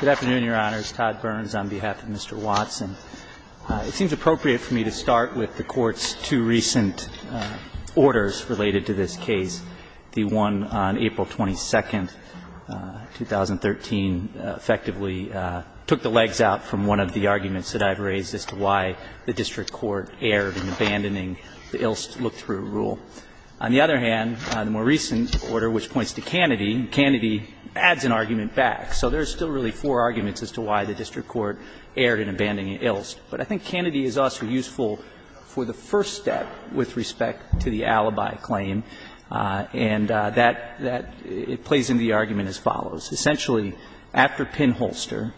Good afternoon, Your Honors. Todd Burns on behalf of Mr. Watson. It seems appropriate for me to start with the Court's two recent orders related to this case, the one on April 22, 2013, effectively took the legs out from one of the arguments that I've raised as to why the district court erred in abandoning the Ilst Look-Through Rule. On the other hand, the more recent order, which points to Kennedy, Kennedy adds an argument back. So there's still really four arguments as to why the district court erred in abandoning Ilst. But I think Kennedy is also useful for the first step with respect to the alibi claim, and that, that, it plays into the argument as follows. Essentially, after Pinholster,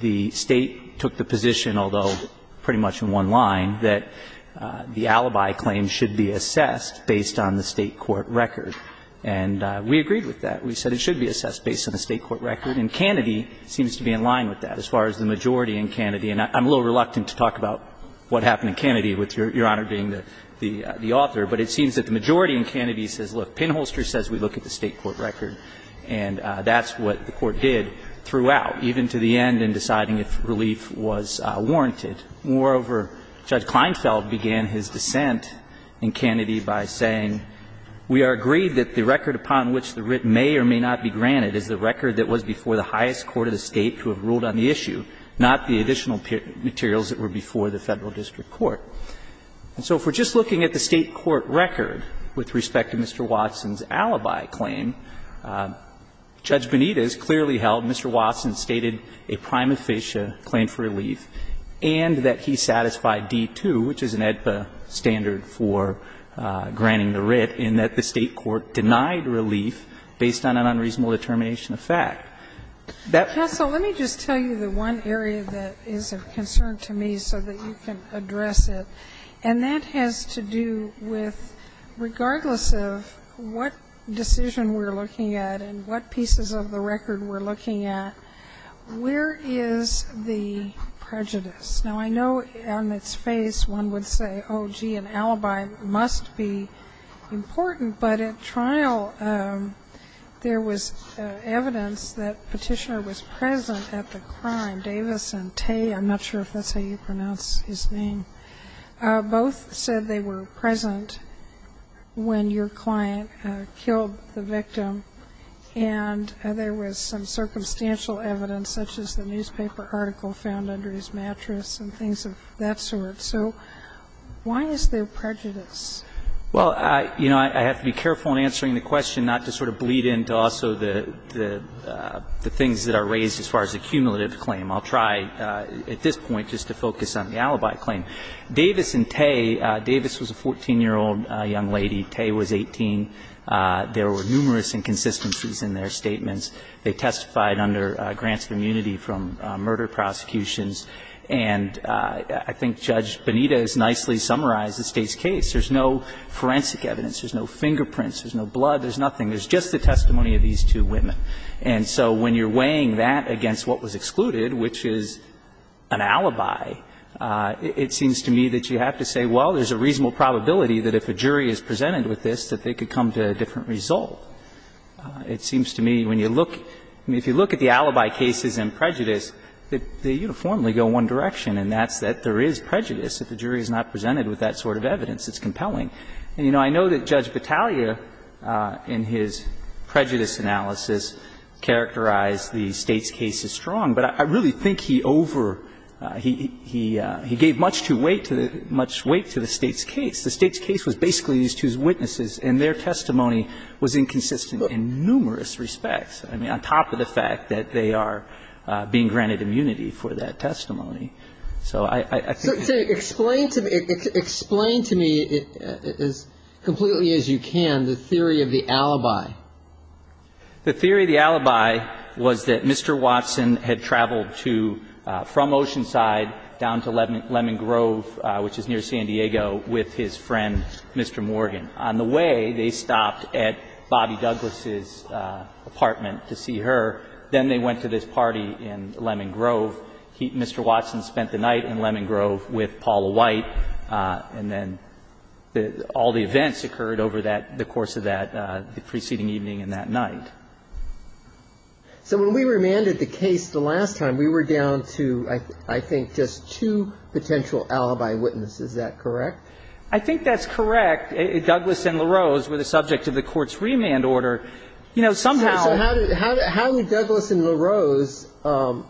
the State took the position, although pretty much in one line, that the alibi claim should be assessed based on the State court record, and we agreed with that. We said it should be assessed based on the State court record, and Kennedy seems to be in line with that as far as the majority in Kennedy. And I'm a little reluctant to talk about what happened in Kennedy with Your Honor being the author, but it seems that the majority in Kennedy says, look, Pinholster says we look at the State court record, and that's what the Court did throughout, even to the end in deciding if relief was warranted. Moreover, Judge Kleinfeld began his dissent in Kennedy by saying, we are agreed that the record upon which the writ may or may not be granted is the record that was before the highest court of the State to have ruled on the issue, not the additional materials that were before the Federal district court. And so if we're just looking at the State court record with respect to Mr. Watson's alibi claim, Judge Benitez clearly held Mr. Watson stated a prime officia claim for relief, and that he satisfied D-2, which is an AEDPA standard for granting the writ, in that the State court denied relief based on an unreasonable determination of fact. Sotomayor, let me just tell you the one area that is of concern to me so that you can address it. And that has to do with, regardless of what decision we're looking at and what pieces of the record we're looking at, where is the prejudice? Now, I know on its face, one would say, oh, gee, an alibi must be a prejudice important, but at trial, there was evidence that Petitioner was present at the crime. Davis and Tay, I'm not sure if that's how you pronounce his name, both said they were present when your client killed the victim. And there was some circumstantial evidence, such as the newspaper article found under his mattress and things of that sort. So why is there prejudice? Well, you know, I have to be careful in answering the question not to sort of bleed into also the things that are raised as far as the cumulative claim. I'll try at this point just to focus on the alibi claim. Davis and Tay, Davis was a 14-year-old young lady, Tay was 18. There were numerous inconsistencies in their statements. They testified under grants of immunity from murder prosecutions. And I think Judge Benito has nicely summarized the State's case. There's no forensic evidence, there's no fingerprints, there's no blood, there's nothing, there's just the testimony of these two women. And so when you're weighing that against what was excluded, which is an alibi, it seems to me that you have to say, well, there's a reasonable probability that if a jury is presented with this, that they could come to a different result. It seems to me, when you look, if you look at the alibi cases and prejudice, they uniformly go one direction, and that's that there is prejudice. If the jury is not presented with that sort of evidence, it's compelling. And, you know, I know that Judge Battaglia, in his prejudice analysis, characterized the State's case as strong, but I really think he over – he gave much too much weight to the State's case. The State's case was basically these two's witnesses, and their testimony was inconsistent in numerous respects, I mean, on top of the fact that they are being granted So I think that's a good point. Explain to me, explain to me as completely as you can, the theory of the alibi. The theory of the alibi was that Mr. Watson had traveled to – from Oceanside down to Lemon Grove, which is near San Diego, with his friend, Mr. Morgan. On the way, they stopped at Bobby Douglas' apartment to see her. Then they went to this party in Lemon Grove. Mr. Watson spent the night in Lemon Grove with Paula White, and then all the events occurred over that – the course of that preceding evening and that night. So when we remanded the case the last time, we were down to, I think, just two potential alibi witnesses. Is that correct? I think that's correct. Douglas and LaRose were the subject of the Court's remand order. You know, somehow – Douglas and LaRose helped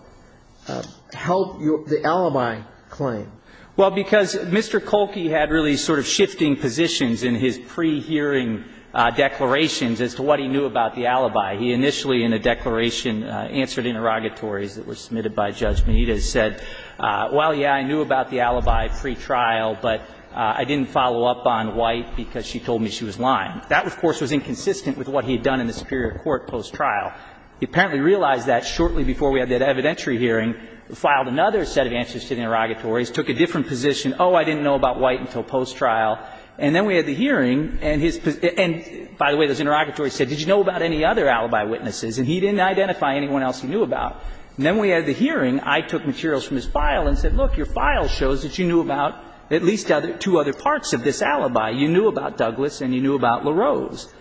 the alibi claim. Well, because Mr. Kolke had really sort of shifting positions in his pre-hearing declarations as to what he knew about the alibi. He initially, in a declaration, answered interrogatories that were submitted by Judge Meade and said, well, yeah, I knew about the alibi pre-trial, but I didn't follow up on White because she told me she was lying. That, of course, was inconsistent with what he had done in the Superior Court post-trial. He apparently realized that shortly before we had that evidentiary hearing, filed another set of answers to the interrogatories, took a different position. Oh, I didn't know about White until post-trial. And then we had the hearing, and his – and by the way, those interrogatories said, did you know about any other alibi witnesses? And he didn't identify anyone else he knew about. And then we had the hearing. I took materials from his file and said, look, your file shows that you knew about at least two other parts of this alibi. You knew about Douglas and you knew about LaRose.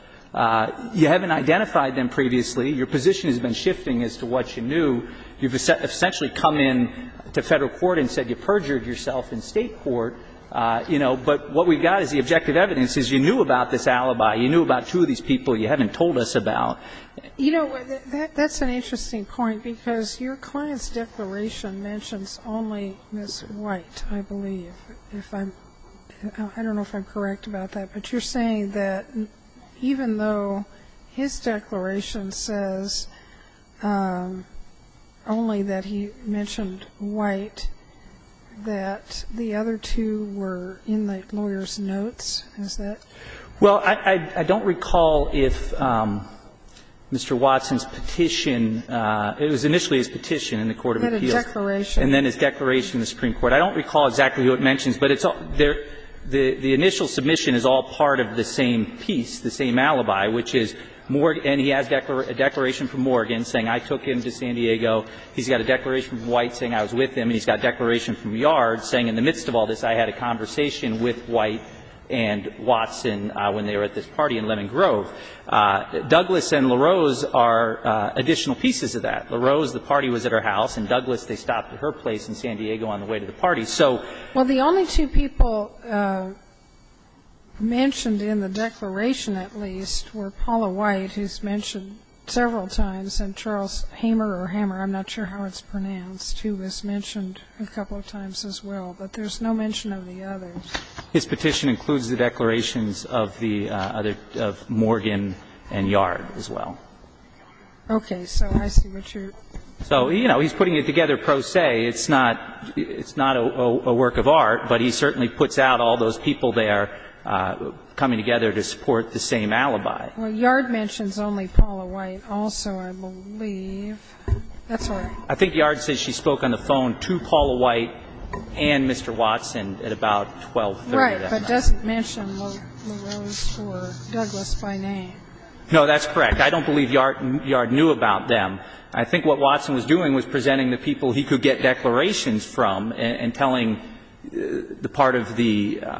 You haven't identified them previously. Your position has been shifting as to what you knew. You've essentially come in to Federal court and said you perjured yourself in State court. You know, but what we've got is the objective evidence is you knew about this alibi. You knew about two of these people you haven't told us about. You know, that's an interesting point, because your client's declaration mentions only Ms. White, I believe. If I'm – I don't know if I'm correct about that. But you're saying that even though his declaration says only that he mentioned White, that the other two were in the lawyer's notes? Is that? Well, I don't recall if Mr. Watson's petition – it was initially his petition in the court of appeals. He had a declaration. And then his declaration in the Supreme Court. I don't recall exactly who it mentions, but it's – the initial submission is all part of the same piece, the same alibi, which is Morgan – and he has a declaration from Morgan saying I took him to San Diego. He's got a declaration from White saying I was with him, and he's got a declaration from Yard saying in the midst of all this I had a conversation with White and Watson when they were at this party in Lemon Grove. Douglas and LaRose are additional pieces of that. LaRose, the party was at her house. And Douglas, they stopped at her place in San Diego on the way to the party. So – Well, the only two people mentioned in the declaration, at least, were Paula White, who's mentioned several times, and Charles Hamer or Hammer, I'm not sure how it's pronounced, who was mentioned a couple of times as well. But there's no mention of the others. His petition includes the declarations of the other – of Morgan and Yard as well. Okay. So I see what you're – So, you know, he's putting it together pro se. It's not – it's not a work of art, but he certainly puts out all those people there coming together to support the same alibi. Well, Yard mentions only Paula White also, I believe. That's right. I think Yard says she spoke on the phone to Paula White and Mr. Watson at about 1230 that night. Right, but doesn't mention LaRose or Douglas by name. No, that's correct. I don't believe Yard knew about them. I think what Watson was doing was presenting the people he could get declarations from and telling the part of the –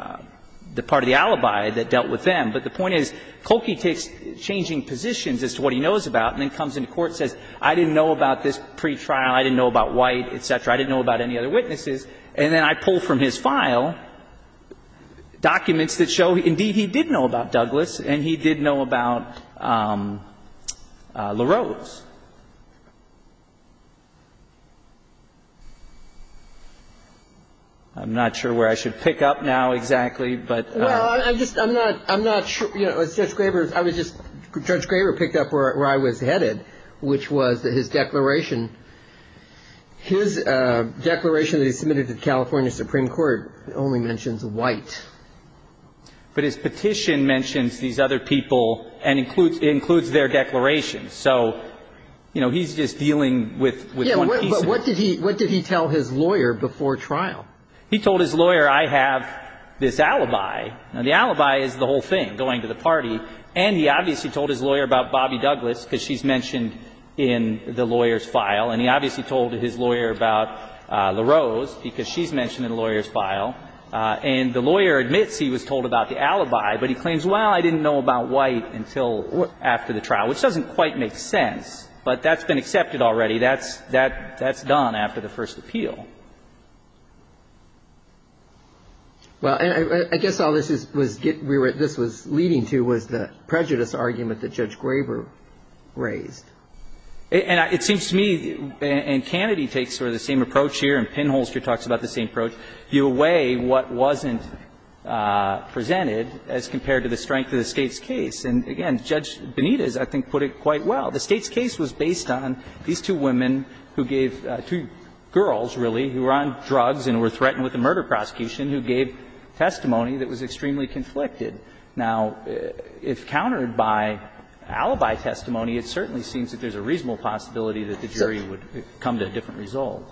the part of the alibi that dealt with them. But the point is, Kolke takes changing positions as to what he knows about and then comes into court and says, I didn't know about this pretrial, I didn't know about White, et cetera, I didn't know about any other witnesses, and then I pull from his file documents that show, indeed, he did know about Douglas and he did know about LaRose. I'm not sure where I should pick up now exactly, but – Well, I'm just – I'm not – I'm not sure – you know, Judge Graber – I was just – Judge Graber picked up where I was headed, which was that his declaration – his declaration that he submitted to the California Supreme Court only mentions White. But his petition mentions these other people and includes their declarations. So, you know, he's just dealing with – Yes, but what did he – what did he tell his lawyer before trial? He told his lawyer, I have this alibi. Now, the alibi is the whole thing, going to the party. And he obviously told his lawyer about Bobbie Douglas because she's mentioned in the lawyer's file. And he obviously told his lawyer about LaRose because she's mentioned in the lawyer's file. And the lawyer admits he was told about the alibi, but he claims, well, I didn't know about White until after the trial, which doesn't quite make sense. But that's been accepted already. That's – that's done after the first appeal. Well, and I guess all this is – was – we were – this was leading to was the prejudice argument that Judge Graber raised. And it seems to me – and Kennedy takes sort of the same approach here, and Pinholster talks about the same approach. I mean, it seems to me that Judge Graber's argument was, well, you weigh what wasn't presented as compared to the strength of the State's case. And again, Judge Benitez, I think, put it quite well. The State's case was based on these two women who gave – two girls, really, who were on drugs and were threatened with a murder prosecution who gave testimony that was extremely conflicted. Now, if countered by alibi testimony, it certainly seems that there's a reasonable possibility that the jury would come to a different result.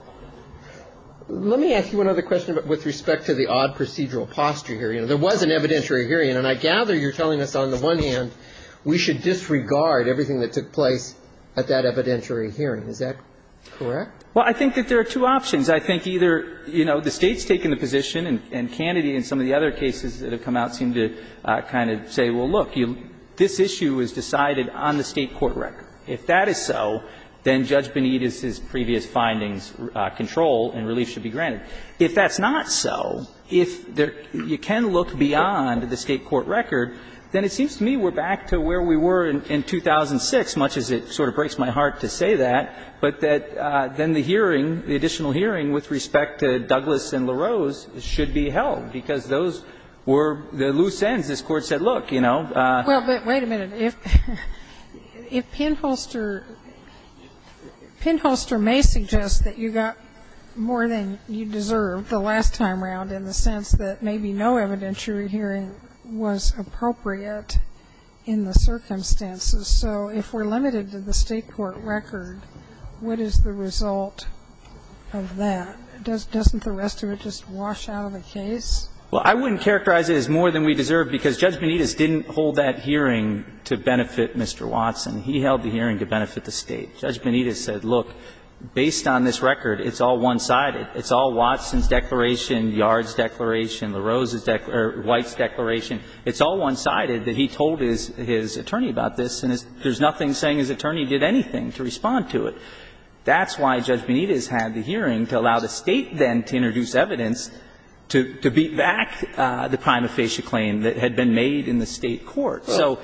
Let me ask you another question with respect to the odd procedural posture here. You know, there was an evidentiary hearing, and I gather you're telling us on the one hand we should disregard everything that took place at that evidentiary hearing. Is that correct? Well, I think that there are two options. I think either, you know, the State's taken the position, and Kennedy and some of the other cases that have come out seem to kind of say, well, look, this issue was decided on the State court record. If that is so, then Judge Benitez's previous findings, control and relief, should be granted. If that's not so, if you can look beyond the State court record, then it seems to me we're back to where we were in 2006, much as it sort of breaks my heart to say that, but that then the hearing, the additional hearing with respect to Douglas and LaRose should be held, because those were the loose ends. This Court said, look, you know. Well, but wait a minute. If Pinholster, Pinholster may suggest that you got more than you deserved the last time around in the sense that maybe no evidentiary hearing was appropriate in the circumstances. So if we're limited to the State court record, what is the result of that? Doesn't the rest of it just wash out of the case? Well, I wouldn't characterize it as more than we deserve, because Judge Benitez didn't hold that hearing to benefit Mr. Watson. He held the hearing to benefit the State. Judge Benitez said, look, based on this record, it's all one-sided. It's all Watson's declaration, Yard's declaration, LaRose's declaration, or White's declaration. It's all one-sided that he told his attorney about this, and there's nothing saying his attorney did anything to respond to it. That's why Judge Benitez had the hearing to allow the State then to introduce evidence to beat back the prime official claim that had been made in the State court. So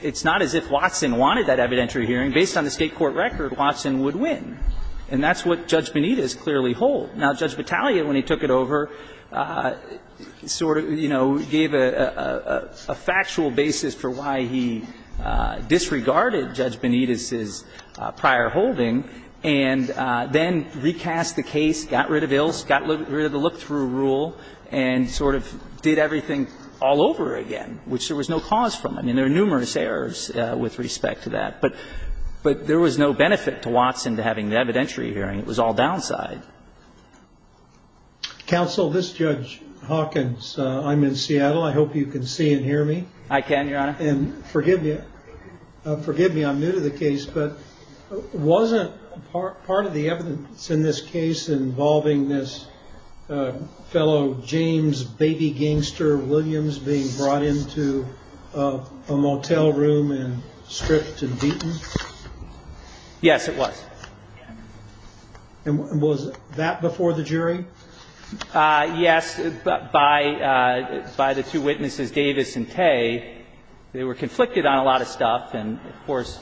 it's not as if Watson wanted that evidentiary hearing. Based on the State court record, Watson would win. And that's what Judge Benitez clearly hold. Now, Judge Battaglia, when he took it over, sort of, you know, gave a factual basis for why he disregarded Judge Benitez's prior holding and then recast the case, got rid of ills, got rid of the look-through rule, and sort of did everything all over again, which there was no cause from. I mean, there are numerous errors with respect to that. But there was no benefit to Watson to having the evidentiary hearing. It was all downside. Counsel, this is Judge Hawkins. I'm in Seattle. I hope you can see and hear me. I can, Your Honor. And forgive me, forgive me, I'm new to the case, but wasn't part of the evidence in this case involving this fellow James baby gangster Williams being brought into a motel room and stripped and beaten? Yes, it was. And was that before the jury? Yes, by the two witnesses, Davis and Tay. They were conflicted on a lot of stuff. And, of course,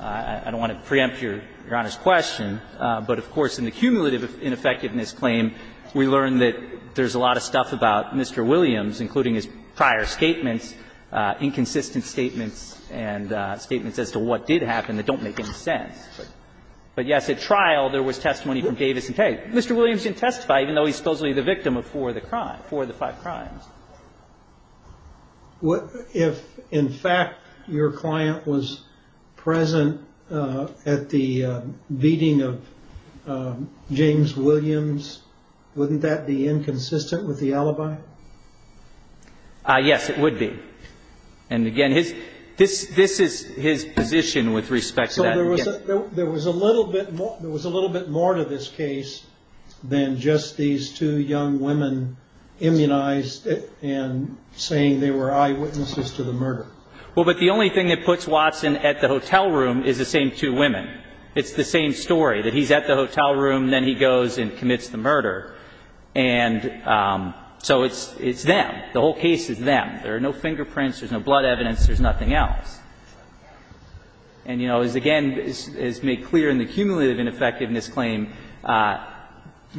I don't want to preempt Your Honor's question. But, of course, in the cumulative ineffectiveness claim, we learned that there's a lot of stuff about Mr. Williams, including his prior statements, inconsistent statements and statements as to what did happen that don't make any sense. But, yes, at trial there was testimony from Davis and Tay. Mr. Williams didn't testify, even though he's supposedly the victim of four of the crimes, four of the five crimes. If, in fact, your client was present at the beating of James Williams, wouldn't that be inconsistent with the alibi? Yes, it would be. And, again, this is his position with respect to that. So there was a little bit more to this case than just these two young women being immunized and saying they were eyewitnesses to the murder. Well, but the only thing that puts Watson at the hotel room is the same two women. It's the same story, that he's at the hotel room, then he goes and commits the murder. And so it's them. The whole case is them. There are no fingerprints. There's no blood evidence. There's nothing else. And, you know, as again is made clear in the cumulative ineffectiveness claim,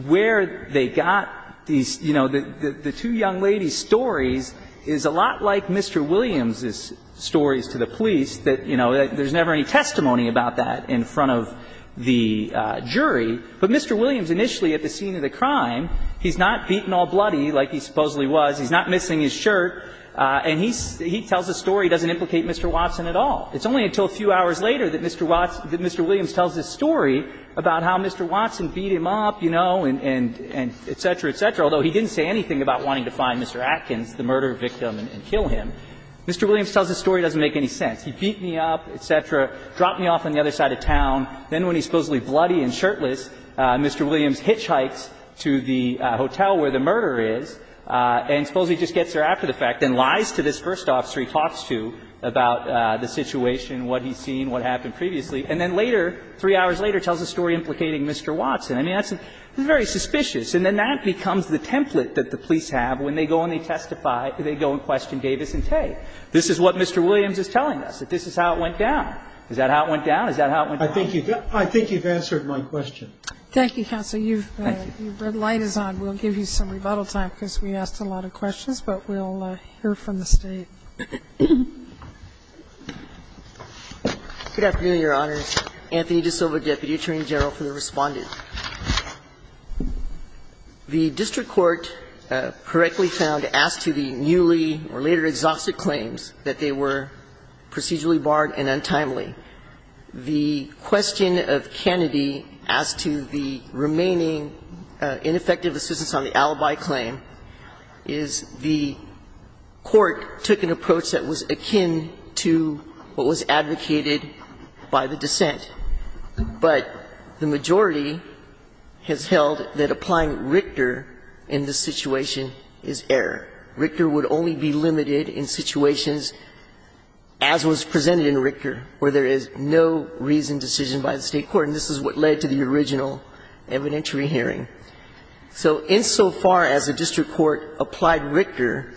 where they got these, you know, the two young ladies' stories is a lot like Mr. Williams' stories to the police, that, you know, there's never any testimony about that in front of the jury. But Mr. Williams initially at the scene of the crime, he's not beaten all bloody like he supposedly was. He's not missing his shirt. And he tells a story that doesn't implicate Mr. Watson at all. It's only until a few hours later that Mr. Watson — that Mr. Williams tells this story about how Mr. Watson beat him up, you know, and et cetera, et cetera, although he didn't say anything about wanting to find Mr. Atkins, the murder victim, and kill him. Mr. Williams tells a story that doesn't make any sense. He beat me up, et cetera, dropped me off on the other side of town. Then when he's supposedly bloody and shirtless, Mr. Williams hitchhikes to the hotel where the murder is and supposedly just gets there after the fact and lies to this situation, what he's seen, what happened previously. And then later, three hours later, tells a story implicating Mr. Watson. I mean, that's very suspicious. And then that becomes the template that the police have when they go and they testify — they go and question Davis and Tay. This is what Mr. Williams is telling us, that this is how it went down. Is that how it went down? Is that how it went down? I think you've answered my question. Thank you, counsel. Thank you. Your red light is on. We'll give you some rebuttal time because we asked a lot of questions, but we'll hear from the State. Good afternoon, Your Honors. Anthony DiSilva, Deputy Attorney General, for the Respondent. The district court correctly found, as to the newly or later exhausted claims, that they were procedurally barred and untimely. The question of Kennedy as to the remaining ineffective assistance on the alibi claim is the court took an approach that was akin to what was advocated by the dissent, but the majority has held that applying Richter in this situation is error. Richter would only be limited in situations, as was presented in Richter, where there is no reasoned decision by the State court. And this is what led to the original evidentiary hearing. So insofar as the district court applied Richter,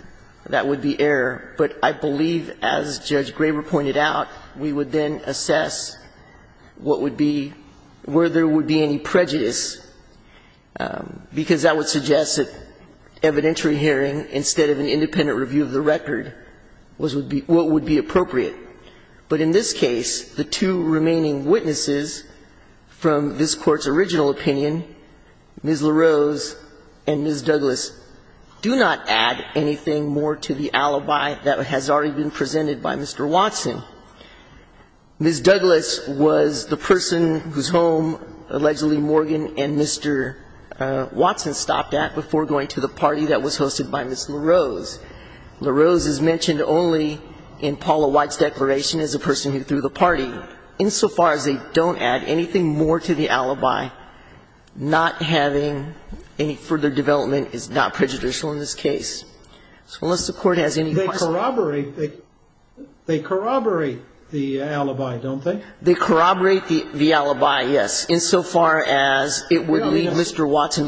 that would be error. But I believe, as Judge Graber pointed out, we would then assess what would be, where there would be any prejudice, because that would suggest that evidentiary hearing, instead of an independent review of the record, was what would be appropriate. But in this case, the two remaining witnesses from this Court's original opinion Ms. LaRose and Ms. Douglas do not add anything more to the alibi that has already been presented by Mr. Watson. Ms. Douglas was the person whose home allegedly Morgan and Mr. Watson stopped at before going to the party that was hosted by Ms. LaRose. LaRose is mentioned only in Paula White's declaration as a person who threw the party. Insofar as they don't add anything more to the alibi, not having any further development is not prejudicial in this case. So unless the Court has any questions. They corroborate the alibi, don't they? They corroborate the alibi, yes, insofar as it would leave Mr. Watson.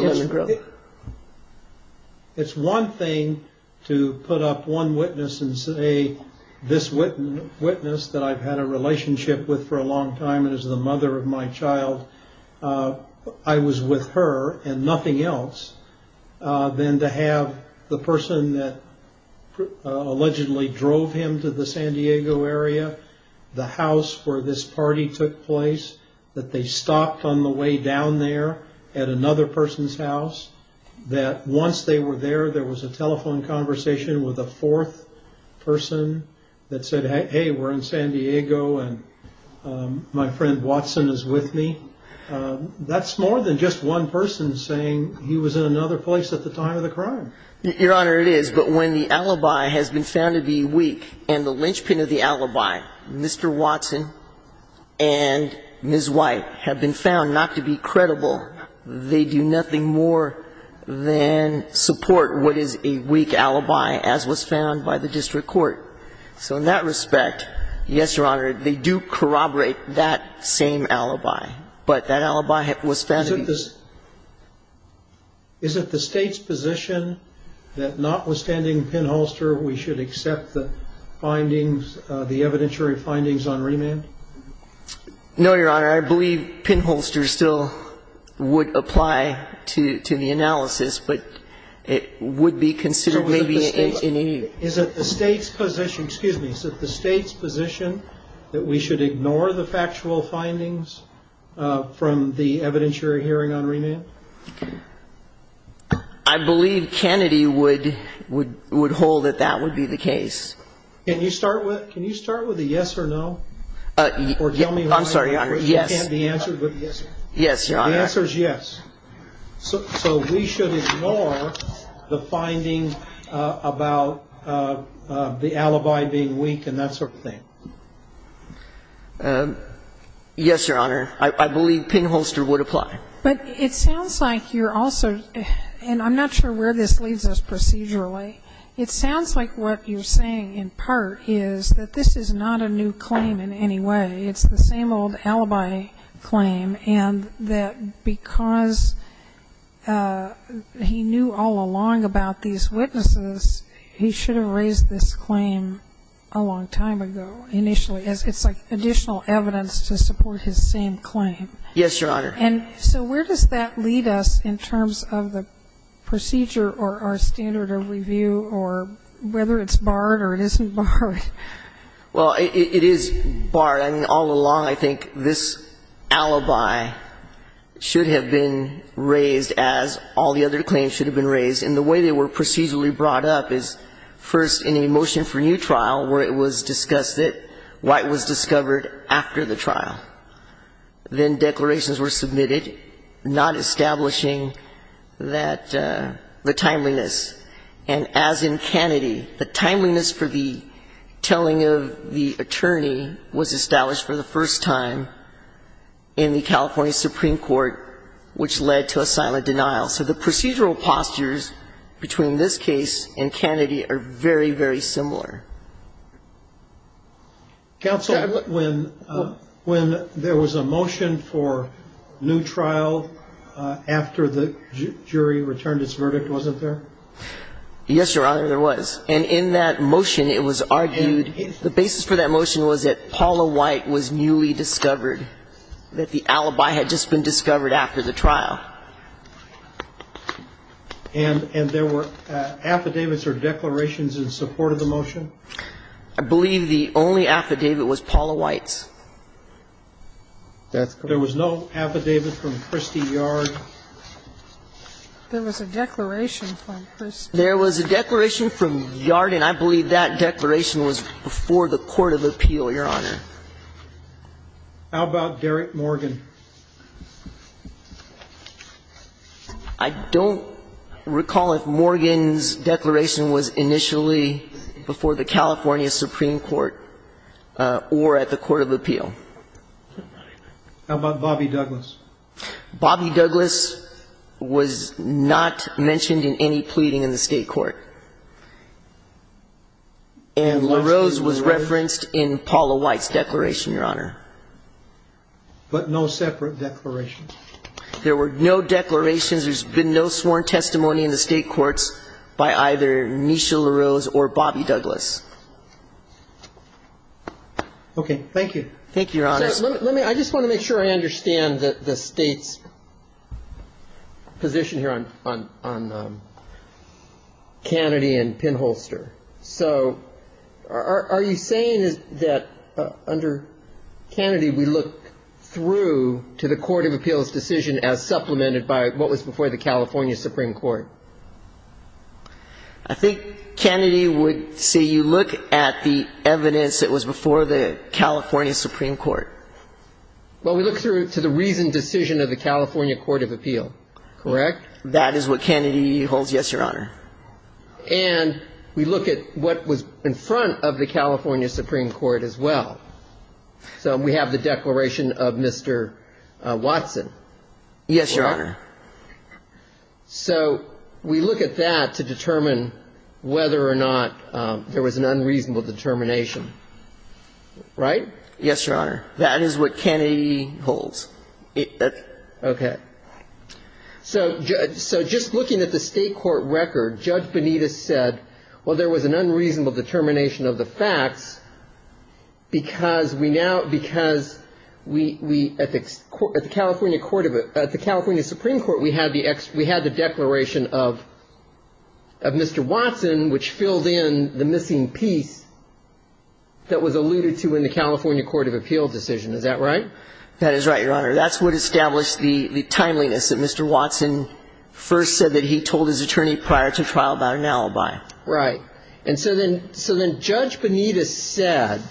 It's one thing to put up one witness and say this witness that I've had a relationship with for a long time and is the mother of my child. I was with her and nothing else than to have the person that allegedly drove him to the San Diego area, the house where this party took place, that they stopped on the way down there at another person's house, that once they were there, there was a telephone conversation with a fourth person that said, hey, we're in San Diego and my friend Watson is with me. That's more than just one person saying he was in another place at the time of the crime. Your Honor, it is. But when the alibi has been found to be weak and the linchpin of the alibi, Mr. Watson and Ms. White, have been found not to be credible, they do nothing more than support what is a weak alibi as was found by the district court. So in that respect, yes, Your Honor, they do corroborate that same alibi. But that alibi was found to be weak. Is it the State's position that notwithstanding pinholster, we should accept the findings, the evidentiary findings on remand? No, Your Honor. Your Honor, I believe pinholster still would apply to the analysis, but it would be considered maybe in any. Is it the State's position, excuse me, is it the State's position that we should ignore the factual findings from the evidentiary hearing on remand? I believe Kennedy would hold that that would be the case. Can you start with a yes or no? I'm sorry, Your Honor, yes. Yes, Your Honor. The answer is yes. So we should ignore the findings about the alibi being weak and that sort of thing. Yes, Your Honor. I believe pinholster would apply. But it sounds like you're also, and I'm not sure where this leads us procedurally, it sounds like what you're saying in part is that this is not a new claim in any way. It's the same old alibi claim and that because he knew all along about these witnesses, he should have raised this claim a long time ago initially. It's like additional evidence to support his same claim. Yes, Your Honor. And so where does that lead us in terms of the procedure or our standard of review or whether it's barred or it isn't barred? Well, it is barred. I mean, all along I think this alibi should have been raised as all the other claims should have been raised. And the way they were procedurally brought up is first in a motion for new trial where it was discussed that White was discovered after the trial. Then declarations were submitted not establishing the timeliness. And as in Kennedy, the timeliness for the telling of the attorney was established for the first time in the California Supreme Court, which led to a silent denial. So the procedural postures between this case and Kennedy are very, very similar. Counsel, when there was a motion for new trial after the jury returned its verdict, wasn't there? Yes, Your Honor, there was. And in that motion it was argued the basis for that motion was that Paula White was newly discovered, that the alibi had just been discovered after the trial. And there were affidavits or declarations in support of the motion? I believe the only affidavit was Paula White's. There was no affidavit from Christy Yard? There was a declaration from Christy. There was a declaration from Yard, and I believe that declaration was before the court of appeal, Your Honor. How about Derek Morgan? I don't recall if Morgan's declaration was initially before the California Supreme Court or at the court of appeal. How about Bobby Douglas? Bobby Douglas was not mentioned in any pleading in the state court. And LaRose was referenced in Paula White's declaration, Your Honor. But no separate declaration? There were no declarations. There's been no sworn testimony in the state courts by either Nisha LaRose or Bobby Douglas. Okay. Thank you. Thank you, Your Honor. I just want to make sure I understand the State's position here on Kennedy and Pinholster. So are you saying that under Kennedy, we look through to the court of appeals decision as supplemented by what was before the California Supreme Court? I think Kennedy would say you look at the evidence that was before the California Supreme Court. Well, we look through to the reasoned decision of the California Court of Appeal, correct? That is what Kennedy holds, yes, Your Honor. And we look at what was in front of the California Supreme Court as well. So we have the declaration of Mr. Watson. Yes, Your Honor. So we look at that to determine whether or not there was an unreasonable determination, right? Yes, Your Honor. That is what Kennedy holds. Okay. So just looking at the state court record, Judge Benitez said, well, there was an unreasonable determination of the facts because we now, because we, at the California Supreme Court, we had the declaration of Mr. Watson, which filled in the missing piece that was alluded to in the California Court of Appeal decision. Is that right? That is right, Your Honor. That's what established the timeliness that Mr. Watson first said that he told his attorney prior to trial about an alibi. Right. And so then Judge Benitez said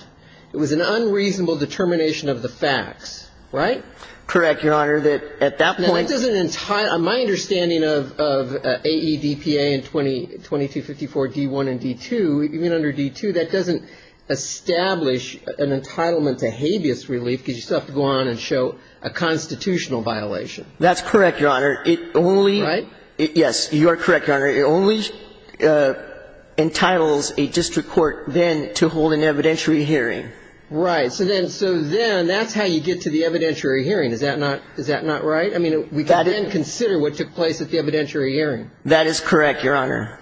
it was an unreasonable determination of the facts, right? Correct, Your Honor. That at that point doesn't entitle my understanding of AEDPA and 2254 D1 and D2, even under D2 that doesn't establish an entitlement to habeas relief because you still have to go on and show a constitutional violation. That's correct, Your Honor. Right? Yes, you are correct, Your Honor. It only entitles a district court then to hold an evidentiary hearing. Right. So then that's how you get to the evidentiary hearing. Is that not right? I mean, we can then consider what took place at the evidentiary hearing. That is correct, Your Honor.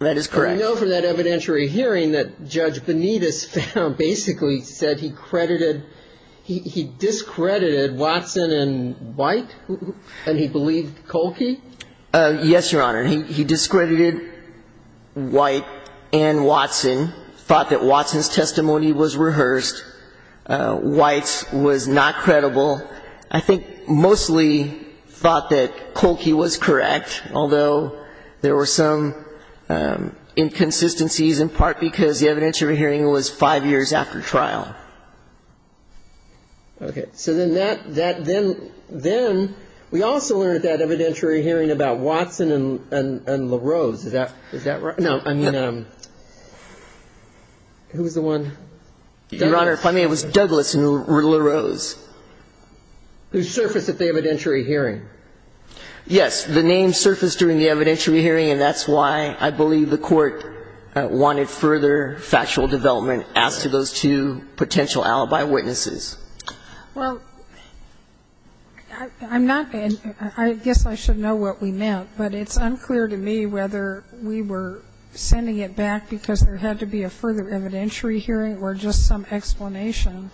That is correct. I know for that evidentiary hearing that Judge Benitez basically said he credited, he discredited Watson and White and he believed Kolke. Yes, Your Honor. He discredited White and Watson, thought that Watson's testimony was rehearsed. White's was not credible. I think mostly thought that Kolke was correct, although there were some inconsistencies in part because the evidentiary hearing was five years after trial. Okay. So then that, then we also learned at that evidentiary hearing about Watson and LaRose. Is that right? No. I mean, who was the one? Your Honor, if I may, it was Douglas and LaRose. Who surfaced at the evidentiary hearing. Yes. The names surfaced during the evidentiary hearing, and that's why I believe the Court wanted further factual development as to those two potential alibi witnesses. Well, I'm not, I guess I should know what we meant, but it's unclear to me whether we were sending it back because there had to be a further evidentiary hearing or just some explanation.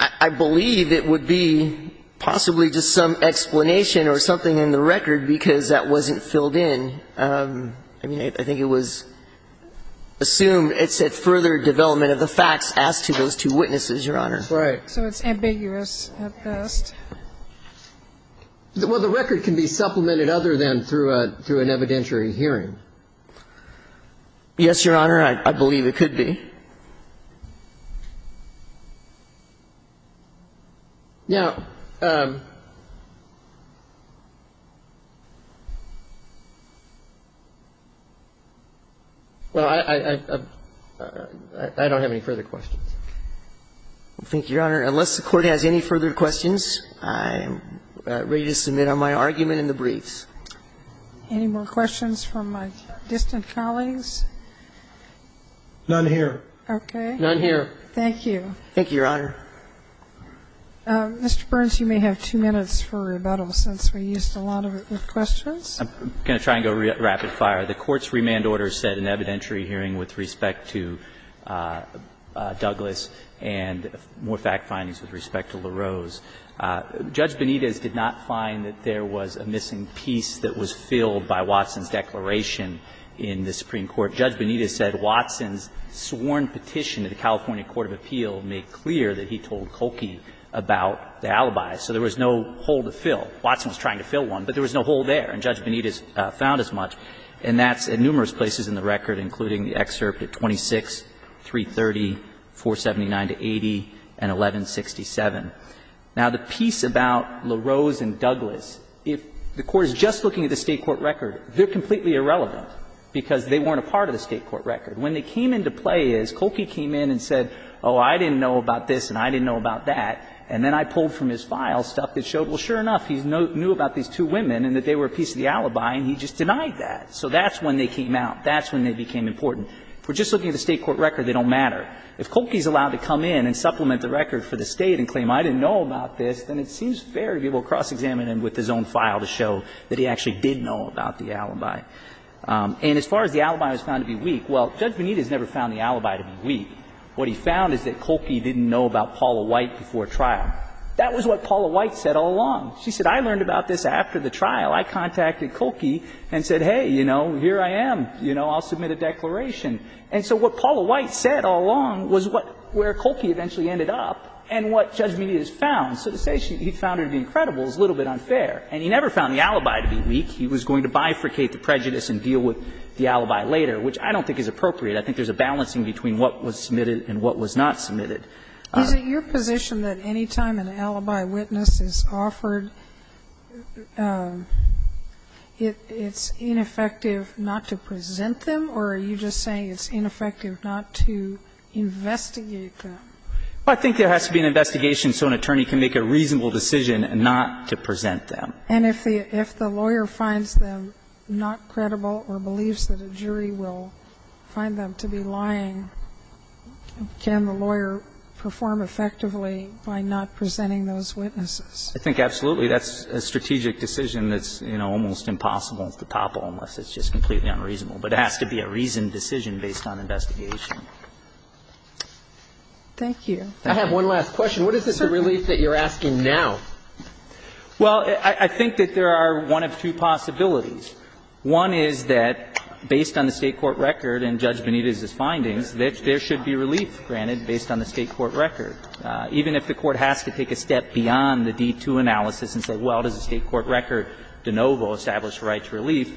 I believe it would be possibly just some explanation or something in the record because that wasn't filled in. I mean, I think it was assumed it said further development of the facts as to those two witnesses, Your Honor. Right. So it's ambiguous at best. Well, the record can be supplemented other than through an evidentiary hearing. Yes, Your Honor, I believe it could be. Now, well, I don't have any further questions. Thank you, Your Honor. Unless the Court has any further questions, I'm ready to submit on my argument in the brief. Any more questions from my distant colleagues? None here. None here. Thank you, Your Honor. Mr. Burns, you may have two minutes for rebuttal since we used a lot of it with questions. I'm going to try and go rapid fire. The Court's remand order said an evidentiary hearing with respect to Douglas and more fact findings with respect to LaRose. Judge Benitez did not find that there was a missing piece that was filled by Watson's declaration in the Supreme Court. Judge Benitez said Watson's sworn petition to the California court of appeal made clear that he told Kolke about the alibis. So there was no hole to fill. Watson was trying to fill one, but there was no hole there. And Judge Benitez found as much. And that's in numerous places in the record, including the excerpt at 26, 330, 479 to 80, and 1167. Now, the piece about LaRose and Douglas, if the Court is just looking at the State Court record, they're completely irrelevant, because they weren't a part of the State Court record. When they came into play is, Kolke came in and said, oh, I didn't know about this and I didn't know about that, and then I pulled from his file stuff that showed, well, sure enough, he knew about these two women and that they were a piece of the alibi, and he just denied that. So that's when they came out. That's when they became important. If we're just looking at the State Court record, they don't matter. If Kolke's allowed to come in and supplement the record for the State and claim, I didn't know about this, then it seems fair to be able to cross-examine him with his own file to show that he actually did know about the alibi. And as far as the alibi was found to be weak, well, Judge Bonita has never found the alibi to be weak. What he found is that Kolke didn't know about Paula White before trial. That was what Paula White said all along. She said, I learned about this after the trial. I contacted Kolke and said, hey, you know, here I am. You know, I'll submit a declaration. And so what Paula White said all along was where Kolke eventually ended up and what Judge Bonita has found. So to say he found her to be incredible is a little bit unfair. And he never found the alibi to be weak. He was going to bifurcate the prejudice and deal with the alibi later, which I don't think is appropriate. I think there's a balancing between what was submitted and what was not submitted. Sotomayor, is it your position that any time an alibi witness is offered, it's ineffective not to present them? Or are you just saying it's ineffective not to investigate them? I think there has to be an investigation so an attorney can make a reasonable decision not to present them. And if the lawyer finds them not credible or believes that a jury will find them to be lying, can the lawyer perform effectively by not presenting those witnesses? I think absolutely. That's a strategic decision that's, you know, almost impossible to topple unless it's just completely unreasonable. But it has to be a reasoned decision based on investigation. Thank you. I have one last question. What is this relief that you're asking now? Well, I think that there are one of two possibilities. One is that based on the State court record and Judge Benitez's findings, there should be relief granted based on the State court record. Even if the Court has to take a step beyond the D-2 analysis and say, well, does the State court record de novo establish a right to relief,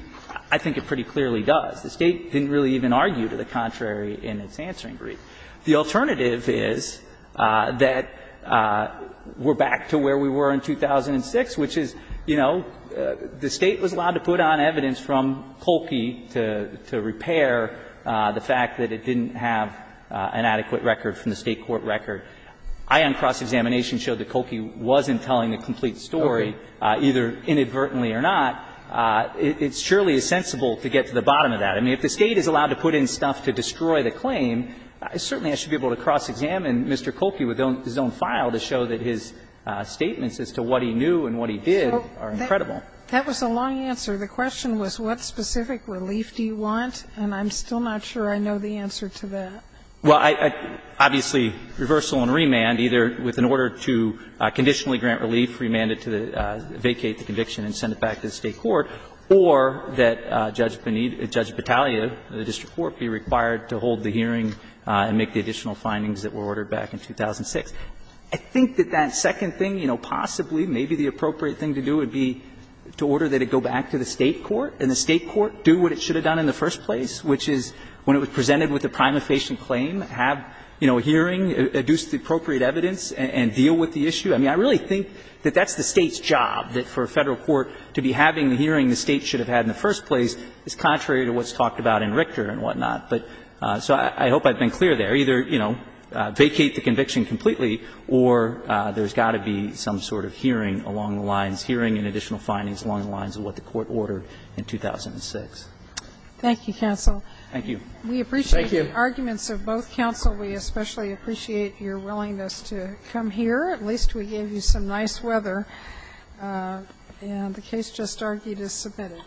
I think it pretty clearly does. The State didn't really even argue to the contrary in its answering brief. The alternative is that we're back to where we were in 2006, which is, you know, the State was allowed to put on evidence from Kolke to repair the fact that it didn't have an adequate record from the State court record. Ion cross-examination showed that Kolke wasn't telling the complete story, either inadvertently or not. It surely is sensible to get to the bottom of that. I mean, if the State is allowed to put in stuff to destroy the claim, certainly I should be able to cross-examine Mr. Kolke with his own file to show that his statements as to what he knew and what he did are incredible. That was a long answer. The question was, what specific relief do you want? And I'm still not sure I know the answer to that. Well, obviously, reversal and remand, either with an order to conditionally grant relief, remand it to vacate the conviction and send it back to the State court, or that Judge Battaglia, the district court, be required to hold the hearing and make the additional findings that were ordered back in 2006. I think that that second thing, you know, possibly, maybe the appropriate thing to do would be to order that it go back to the State court, and the State court do what it should have done in the first place, which is when it was presented with a prima facie claim, have, you know, a hearing, adduce the appropriate evidence, and deal with the issue. I mean, I really think that that's the State's job, that for a Federal court to be having the hearing the State should have had in the first place is contrary to what's talked about in Richter and whatnot. But so I hope I've been clear there. Either, you know, vacate the conviction completely, or there's got to be some sort of hearing along the lines, hearing and additional findings along the lines of what the Court ordered in 2006. Thank you, counsel. Thank you. Thank you. We appreciate the arguments of both counsel. We especially appreciate your willingness to come here. At least we gave you some nice weather, and the case just argued is submitted.